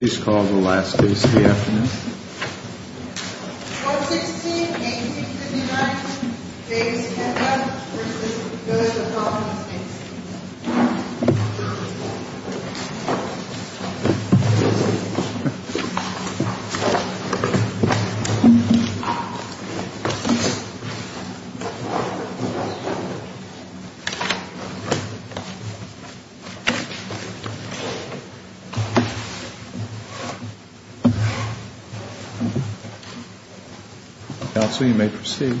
Please call the last case of the afternoon. 416-1859, Davis-Hedlund v. Billingsville Com'n Estate Counsel, you may proceed.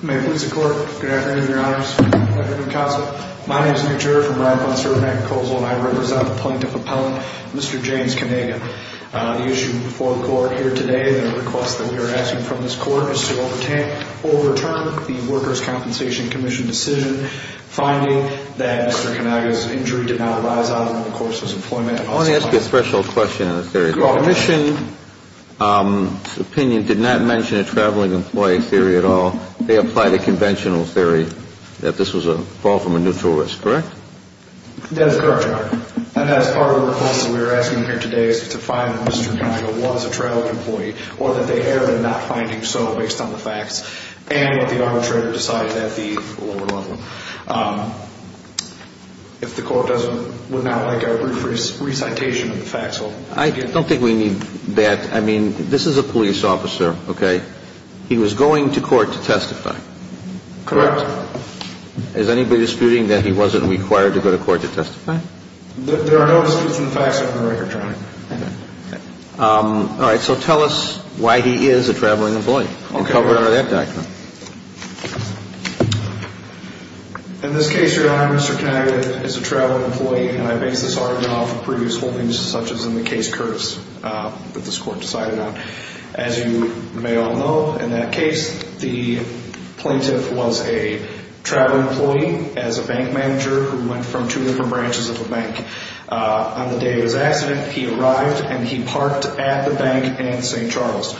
Good afternoon, Mr. Court. Good afternoon, Your Honors. Good afternoon, Counsel. My name is Nick Jarrett from Ryan Bonservant Accusation and I represent the Plaintiff Appellant, Mr. James Kanaga. The issue before the Court here today, the request that we are asking from this Court is to overturn the Workers' Compensation Commission decision finding that Mr. Kanaga's injury did not arise out of the course of his employment. I want to ask you a special question on the theory. The Commission's opinion did not mention a traveling employee theory at all. They applied a conventional theory that this was a fall from a neutral risk, correct? That is correct, Your Honor. And as part of the request that we are asking here today is to find that Mr. Kanaga was a traveling employee or that they err in not finding so based on the facts and what the arbitrator decided at the lower level. If the Court would not like a brief recitation of the facts. I don't think we need that. I mean, this is a police officer, okay? He was going to court to testify. Correct. Is anybody disputing that he wasn't required to go to court to testify? There are no disputes in the facts on the record, Your Honor. Okay. All right, so tell us why he is a traveling employee and cover it under that doctrine. In this case, Your Honor, Mr. Kanaga is a traveling employee and I base this argument off of previous holdings such as in the case Curtis that this Court decided on. As you may all know, in that case, the plaintiff was a traveling employee as a bank manager who went from two different branches of the bank. On the day of his accident, he arrived and he parked at the bank in St. Charles.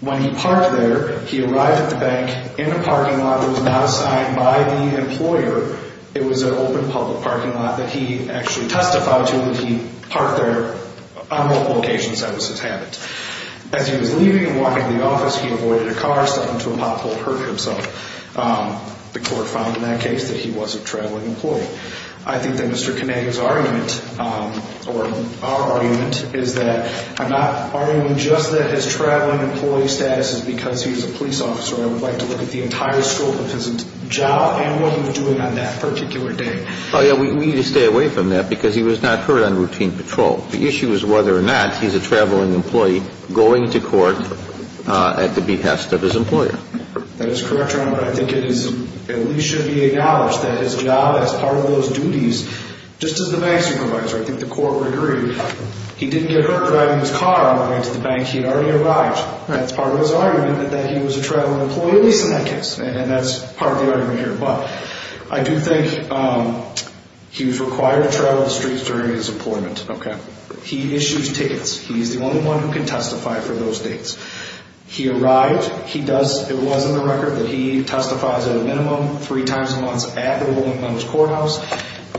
When he parked there, he arrived at the bank in a parking lot that was not assigned by the employer. It was an open public parking lot that he actually testified to that he parked there on multiple occasions. That was his habit. As he was leaving and walking to the office, he avoided a car, something to a pothole, hurt himself. The Court found in that case that he was a traveling employee. I think that Mr. Kanaga's argument or our argument is that I'm not arguing just that his traveling employee status is because he's a police officer. I would like to look at the entire scope of his job and what he was doing on that particular day. Oh, yeah, we need to stay away from that because he was not hurt on routine patrol. The issue is whether or not he's a traveling employee going to court at the behest of his employer. That is correct, Your Honor. I think it at least should be acknowledged that his job as part of those duties, just as the bank supervisor, I think the Court would agree, he didn't get hurt driving his car on the way to the bank. He had already arrived. That's part of his argument that he was a traveling employee, at least in that case, and that's part of the argument here. But I do think he was required to travel the streets during his employment. He issues tickets. He's the only one who can testify for those dates. He arrives. It was in the record that he testifies at a minimum three times a month at the woman's courthouse,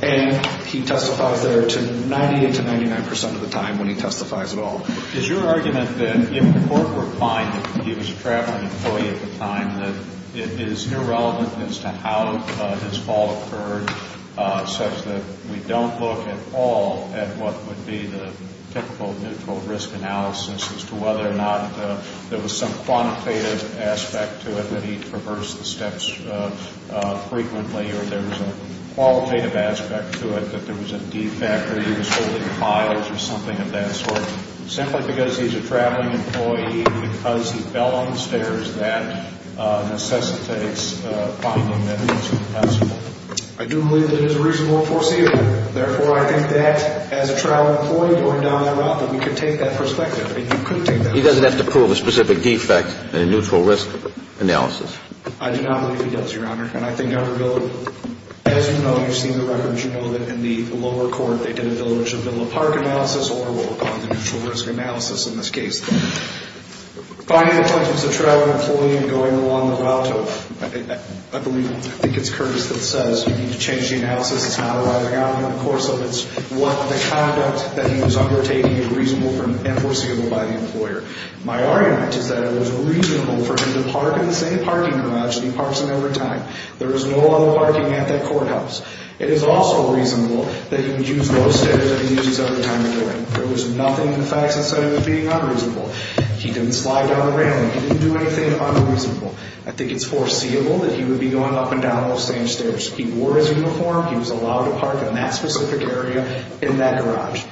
and he testifies there 90% to 99% of the time when he testifies at all. Is your argument that if the Court were to find that he was a traveling employee at the time, that it is irrelevant as to how his fault occurred such that we don't look at all at what would be the typical neutral risk analysis as to whether or not there was some quantitative aspect to it that he traversed the steps frequently, or there was a qualitative aspect to it, that there was a defect or he was holding files or something of that sort, simply because he's a traveling employee, because he fell on the stairs, that necessitates finding that it's impossible? I do believe that it is reasonable to foresee it. Therefore, I think that as a traveling employee going down that route, that we could take that perspective. He doesn't have to prove a specific defect in a neutral risk analysis. I do not believe he does, Your Honor. And I think, as you know, you've seen the records. You know that in the lower court, they did a Bill of Rights and Bill of Park analysis or the neutral risk analysis in this case. Finding that he was a traveling employee and going along the route, I think it's Curtis that says you need to change the analysis. It's not a rising argument. Of course, it's the conduct that he was undertaking is reasonable and foreseeable by the employer. My argument is that it was reasonable for him to park in the same parking garage that he parks in every time. There was no other parking at that courthouse. It is also reasonable that he would use those stairs that he uses every time he went in. There was nothing in the facts that said he was being unreasonable. He didn't slide down a railing. He didn't do anything unreasonable. I think it's foreseeable that he would be going up and down those same stairs. He wore his uniform. He was allowed to park in that specific area in that garage.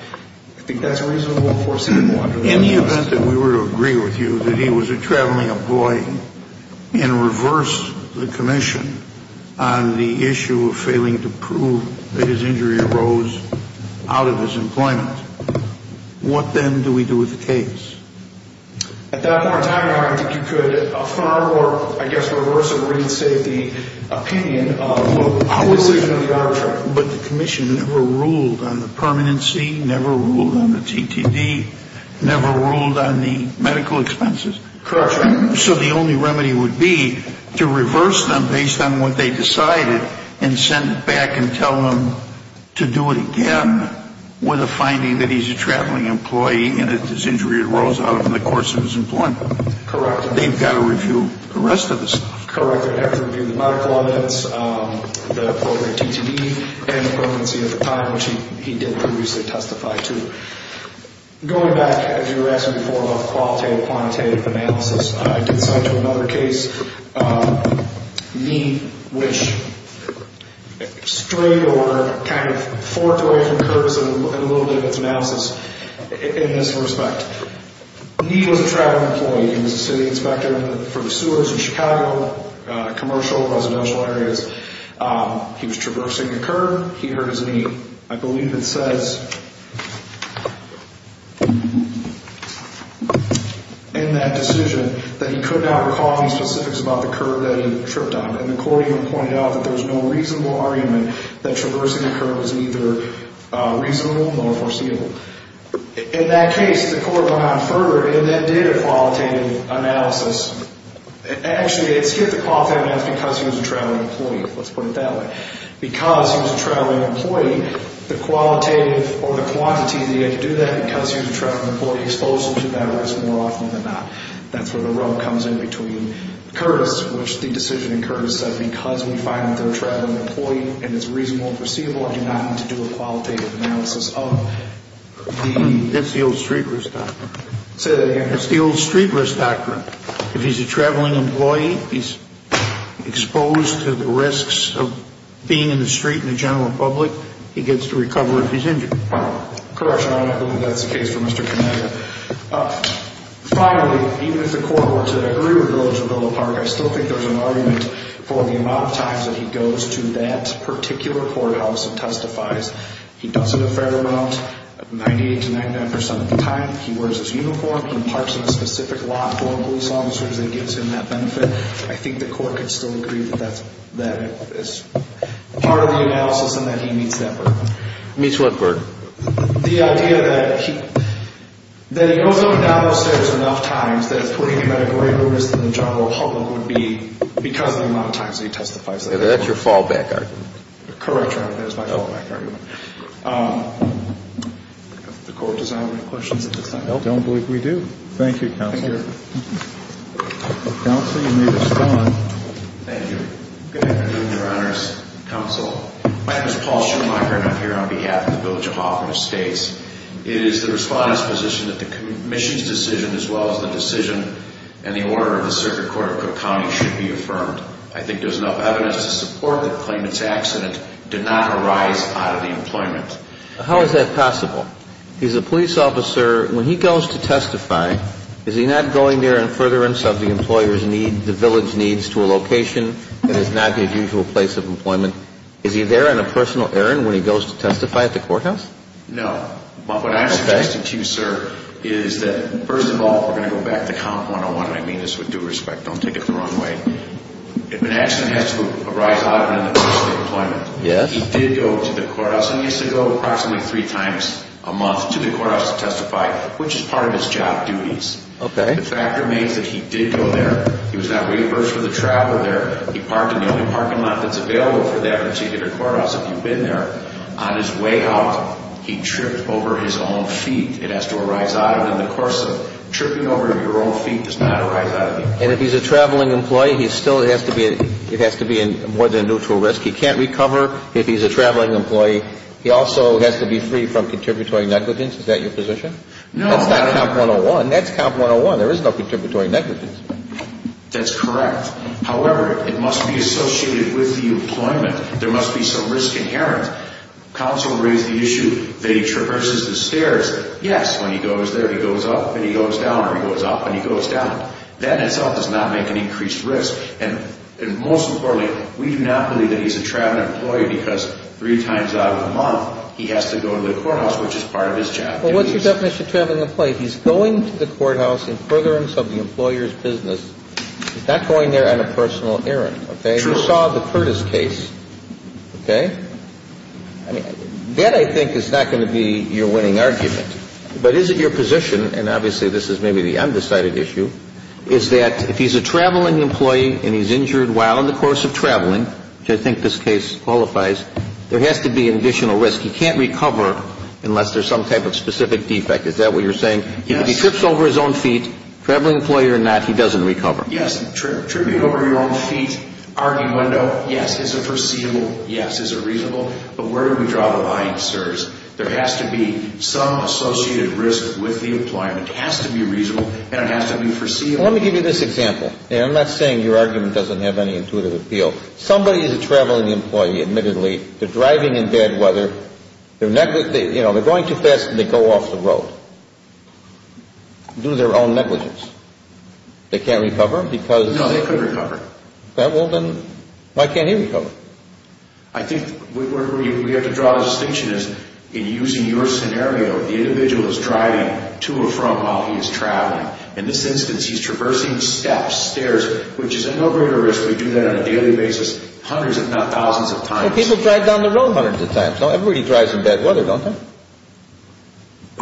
I think that's reasonable and foreseeable under the law. In the event that we were to agree with you that he was a traveling employee and reversed the commission on the issue of failing to prove that his injury arose out of his employment, what then do we do with the case? At that point in time, I think you could affirm or, I guess, reverse or reinstate the opinion of the decision of the arbitrator. But the commission never ruled on the permanency, never ruled on the TTD, never ruled on the medical expenses. Correct. So the only remedy would be to reverse them based on what they decided and send it back and tell them to do it again with a finding that he's a traveling employee and that his injury arose out of the course of his employment. Correct. They've got to review the rest of this. Correct. They have to review the medical evidence, the appropriate TTD, and the permanency at the time, which he did previously testify to. Going back, as you were asking before, about qualitative and quantitative analysis, I did cite to another case, Need, which straight or kind of forked away from Curtis in a little bit of its analysis in this respect. Need was a traveling employee. He was a city inspector for the sewers in Chicago, commercial, residential areas. He was traversing a curb. He hurt his knee. I believe it says in that decision that he could not recall any specifics about the curb that he tripped on. And the court even pointed out that there was no reasonable argument that traversing a curb was neither reasonable nor foreseeable. In that case, the court went on further and then did a qualitative analysis. Actually, it skipped the qualitative analysis because he was a traveling employee. Let's put it that way. Because he was a traveling employee, the qualitative or the quantity that he had to do that because he was a traveling employee exposed him to that risk more often than not. That's where the rub comes in between Curtis, which the decision in Curtis says because we find that they're a traveling employee and it's reasonable and foreseeable, the court did not need to do a qualitative analysis of the. That's the old street risk doctrine. Say that again. That's the old street risk doctrine. If he's a traveling employee, he's exposed to the risks of being in the street and the general public, he gets to recover if he's injured. Correct, Your Honor. I believe that's the case for Mr. Kaneda. Finally, even if the court were to re-rebuild the Willow Park, I still think there's an argument for the amount of times that he goes to that particular courthouse and testifies. He does it a fair amount, 98% to 99% of the time. He wears his uniform. He parks in a specific lot for police officers and gives him that benefit. I think the court could still agree that that is part of the analysis and that he meets that burden. Meets what burden? The idea that he goes up and down those stairs enough times that it's putting him at a greater risk than the general public would be because of the amount of times that he testifies. That's your fallback argument. Correct, Your Honor. That is my fallback argument. Does the court desire any questions at this time? I don't believe we do. Thank you, Counsel. Thank you. Counsel, you may respond. Thank you. Good afternoon, Your Honors. Counsel, my name is Paul Schumacher, and I'm here on behalf of the Bill of Jehovah of States. It is the respondent's position that the commission's decision as well as the decision and the order of the Circuit Court of Cook County should be affirmed. I think there's enough evidence to support the claimant's accident did not arise out of the employment. How is that possible? He's a police officer. When he goes to testify, is he not going there in furtherance of the employer's need, the village needs to a location that is not the usual place of employment? Is he there on a personal errand when he goes to testify at the courthouse? No. What I'm suggesting to you, sir, is that, first of all, we're going to go back to count 101, and I mean this with due respect. Don't take it the wrong way. If an accident has to arise out of it in the course of employment, he did go to the courthouse and needs to go approximately three times a month to the courthouse to testify, which is part of his job duties. Okay. The fact remains that he did go there. He was not reimbursed for the travel there. He parked in the only parking lot that's available for that particular courthouse, if you've been there. On his way out, he tripped over his own feet. It has to arise out of it in the course of it. Tripping over your own feet does not arise out of it. And if he's a traveling employee, he still has to be in more than neutral risk. He can't recover if he's a traveling employee. He also has to be free from contributory negligence. Is that your position? No. That's not count 101. That's count 101. There is no contributory negligence. That's correct. However, it must be associated with the employment. There must be some risk inherent. Counsel raised the issue that he traverses the stairs. Yes, when he goes there, he goes up and he goes down or he goes up and he goes down. That in itself does not make an increased risk. And most importantly, we do not believe that he's a traveling employee because three times out of the month, he has to go to the courthouse, which is part of his job. Well, what's your definition of traveling employee? He's going to the courthouse in furtherance of the employer's business. He's not going there on a personal errand. Okay? True. You saw the Curtis case. Okay? I mean, that, I think, is not going to be your winning argument. But is it your position, and obviously this is maybe the undecided issue, is that if he's a traveling employee and he's injured while in the course of traveling, which I think this case qualifies, there has to be an additional risk. He can't recover unless there's some type of specific defect. Is that what you're saying? Yes. If he trips over his own feet, traveling employee or not, he doesn't recover. Yes. Tripping over your own feet, argument, yes, is a foreseeable, yes, is a reasonable. But where do we draw the line, sirs? There has to be some associated risk with the employer. It has to be reasonable, and it has to be foreseeable. Let me give you this example. I'm not saying your argument doesn't have any intuitive appeal. Somebody is a traveling employee, admittedly. They're driving in bad weather. They're going too fast, and they go off the road, do their own negligence. They can't recover? No, they could recover. Why can't he recover? I think where we have to draw the distinction is in using your scenario, the individual is driving to or from while he is traveling. In this instance, he's traversing steps, stairs, which is at no greater risk. We do that on a daily basis hundreds if not thousands of times. People drive down the road hundreds of times. Everybody drives in bad weather, don't they?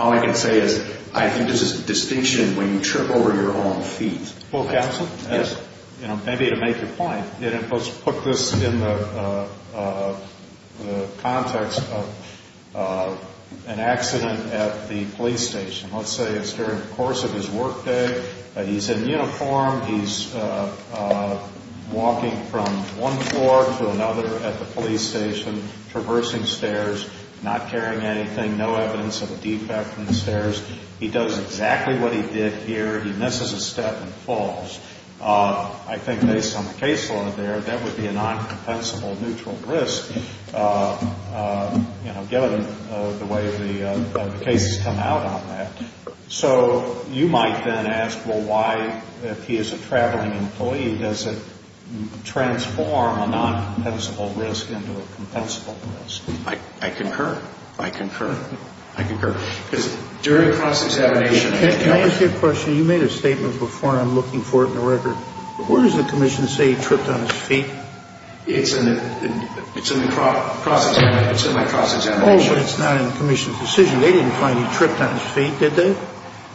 All I can say is I think there's a distinction when you trip over your own feet. Well, counsel, maybe to make your point, let's put this in the context of an accident at the police station. Let's say it's during the course of his workday. He's in uniform. He's walking from one floor to another at the police station, traversing stairs, not carrying anything, no evidence of a defect in the stairs. He does exactly what he did here. He misses a step and falls. I think based on the case law there, that would be a non-compensable neutral risk, given the way the cases come out on that. So you might then ask, well, why, if he is a traveling employee, does it transform a non-compensable risk into a compensable risk? I concur. I concur. I concur. Can I ask you a question? Counsel, you made a statement before, and I'm looking for it in the record. Where does the commission say he tripped on his feet? It's in the cross-examination. Oh, but it's not in the commission's decision. They didn't find he tripped on his feet, did they?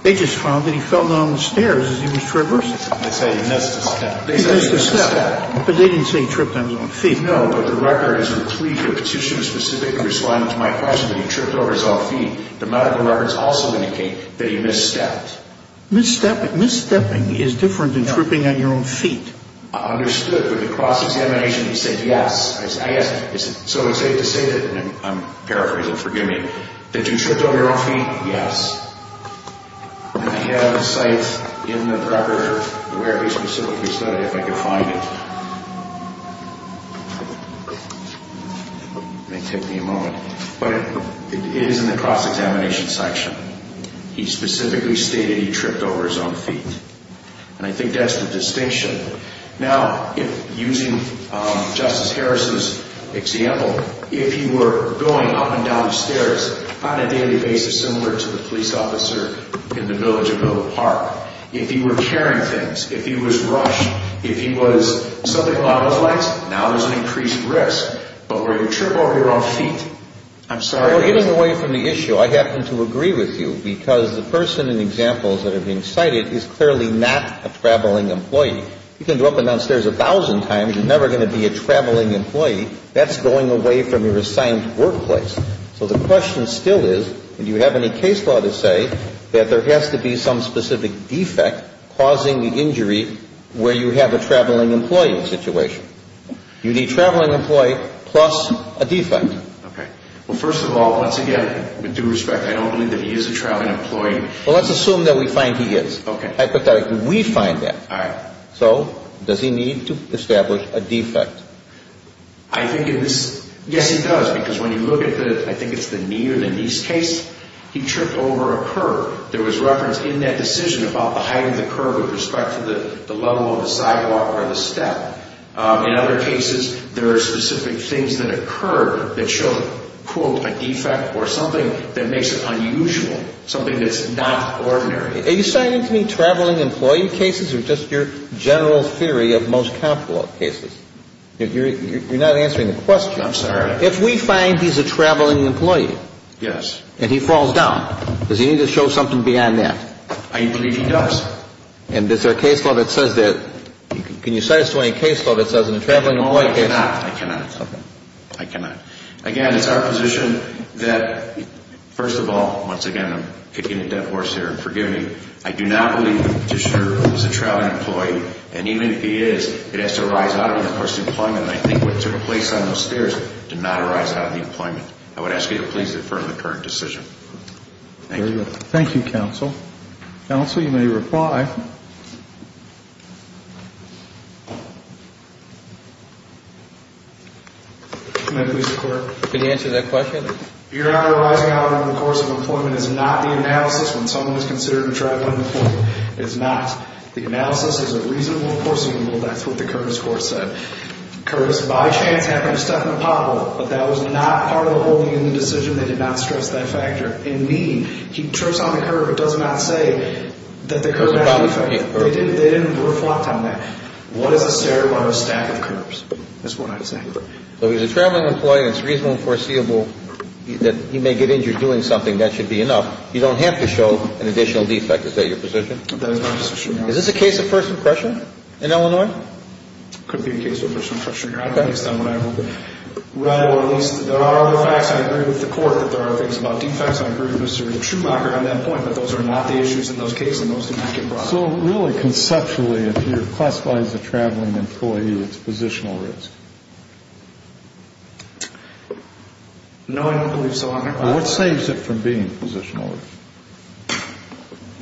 They just found that he fell down the stairs as he was traversing. They said he missed a step. He missed a step. But they didn't say he tripped on his own feet. No, but the record is in the plea for petition to specifically respond to my question that he tripped over his own feet. The medical records also indicate that he misstepped. Misstepping is different than tripping on your own feet. I understood. With the cross-examination, he said yes. I asked him, is it so safe to say that, and I'm paraphrasing, forgive me, that you tripped on your own feet? Yes. I have a site in the record where he specifically said it, if I could find it. It may take me a moment. But it is in the cross-examination section. He specifically stated he tripped over his own feet. And I think that's the distinction. Now, using Justice Harris's example, if he were going up and down the stairs on a daily basis similar to the police officer in the village of Noble Park, if he were carrying things, if he was rushed, if he was something along those lines, now there's an increased risk. But were you tripping over your own feet? I'm sorry. We're getting away from the issue. I happen to agree with you because the person in the examples that are being cited is clearly not a traveling employee. You can go up and down stairs a thousand times. You're never going to be a traveling employee. That's going away from your assigned workplace. So the question still is, do you have any case law to say that there has to be some specific defect causing the injury where you have a traveling employee situation? You need a traveling employee plus a defect. Okay. Well, first of all, once again, with due respect, I don't believe that he is a traveling employee. Well, let's assume that we find he is. Okay. Hypothetically, we find that. All right. So does he need to establish a defect? I think it is. Yes, he does. Because when you look at the, I think it's the knee or the knees case, he tripped over a curb. There was reference in that decision about the height of the curb with respect to the level of the sidewalk or the step. In other cases, there are specific things that occur that show, quote, a defect or something that makes it unusual, something that's not ordinary. Are you assigning to me traveling employee cases or just your general theory of most capital cases? You're not answering the question. I'm sorry. If we find he's a traveling employee. Yes. And he falls down, does he need to show something beyond that? I believe he does. And is there a case law that says that, can you satisfy a case law that says in a traveling employee case. No, I cannot. I cannot. Okay. I cannot. Again, it's our position that, first of all, once again, I'm kicking a dead horse here, and forgive me, I do not believe that the petitioner is a traveling employee, and even if he is, it has to arise out of the course of employment, and I think what took place on those stairs did not arise out of the employment. I would ask you to please affirm the current decision. Thank you. Thank you, counsel. Counsel, you may reply. May I please report? Can you answer that question? Your Honor, arising out of the course of employment is not the analysis when someone is considered a traveling employee. It's not. The analysis is a reasonable, foreseeable, that's what the Curtis court said. Curtis, by chance, happened to step in a pot hole, but that was not part of the holding in the decision. They did not stress that factor. Indeed, he trips on the curb. It does not say that the curb has a defect. They didn't reflect on that. What is a stair by a stack of curbs is what I'm saying. So if he's a traveling employee and it's reasonable and foreseeable that he may get injured doing something, that should be enough. You don't have to show an additional defect. Is that your position? That is my position, Your Honor. Is this a case of first impression in Illinois? It could be a case of first impression, Your Honor. I don't understand what I have over there. There are other facts. I agree with the court that there are things about defects. I agree with Mr. Schumacher on that point, but those are not the issues in those cases and those do not get brought up. So really, conceptually, if you're classified as a traveling employee, it's positional risk? No, I don't believe so, Your Honor. What saves it from being positional risk?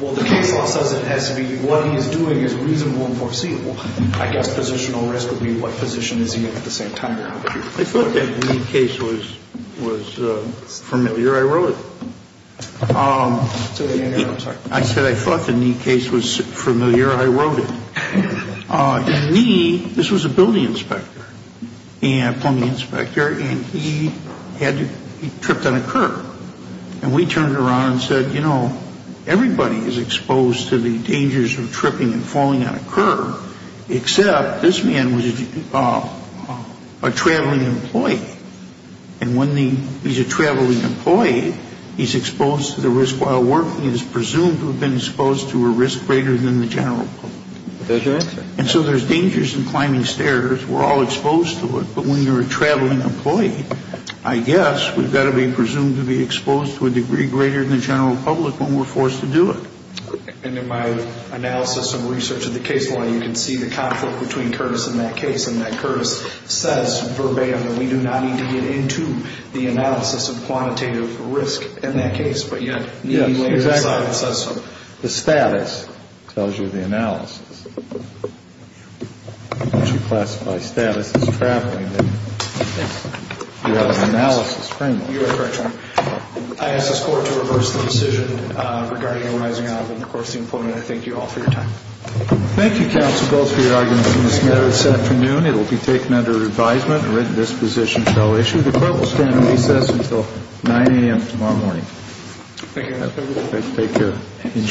Well, the case law says it has to be what he's doing is reasonable and foreseeable. I guess positional risk would be what position is he in at the same time. I thought that the Knee case was familiar. I wrote it. I'm sorry. I said I thought the Knee case was familiar. I wrote it. In Knee, this was a building inspector, a plumbing inspector, and he tripped on a curb. And we turned around and said, you know, everybody is exposed to the dangers of tripping and falling on a curb, except this man was a traveling employee. And when he's a traveling employee, he's exposed to the risk while working and is presumed to have been exposed to a risk greater than the general public. That's right. And so there's dangers in climbing stairs. We're all exposed to it. But when you're a traveling employee, I guess we've got to be presumed to be exposed to a degree greater than the general public when we're forced to do it. And in my analysis and research of the case law, you can see the conflict between Curtis and that case in that Curtis says verbatim that we do not need to get into the analysis of quantitative risk in that case, but yet Knee laid it aside and says so. Yes, exactly. The status tells you the analysis. Once you classify status as traveling, then you have an analysis framework. You're correct, Your Honor. I ask this Court to reverse the decision regarding him rising up and, of course, the employment. I thank you all for your time. Thank you, counsel, both for your arguments this afternoon. It will be taken under advisement and written disposition until issued. The court will stand on recess until 9 a.m. tomorrow morning. Thank you, Your Honor. Thank you.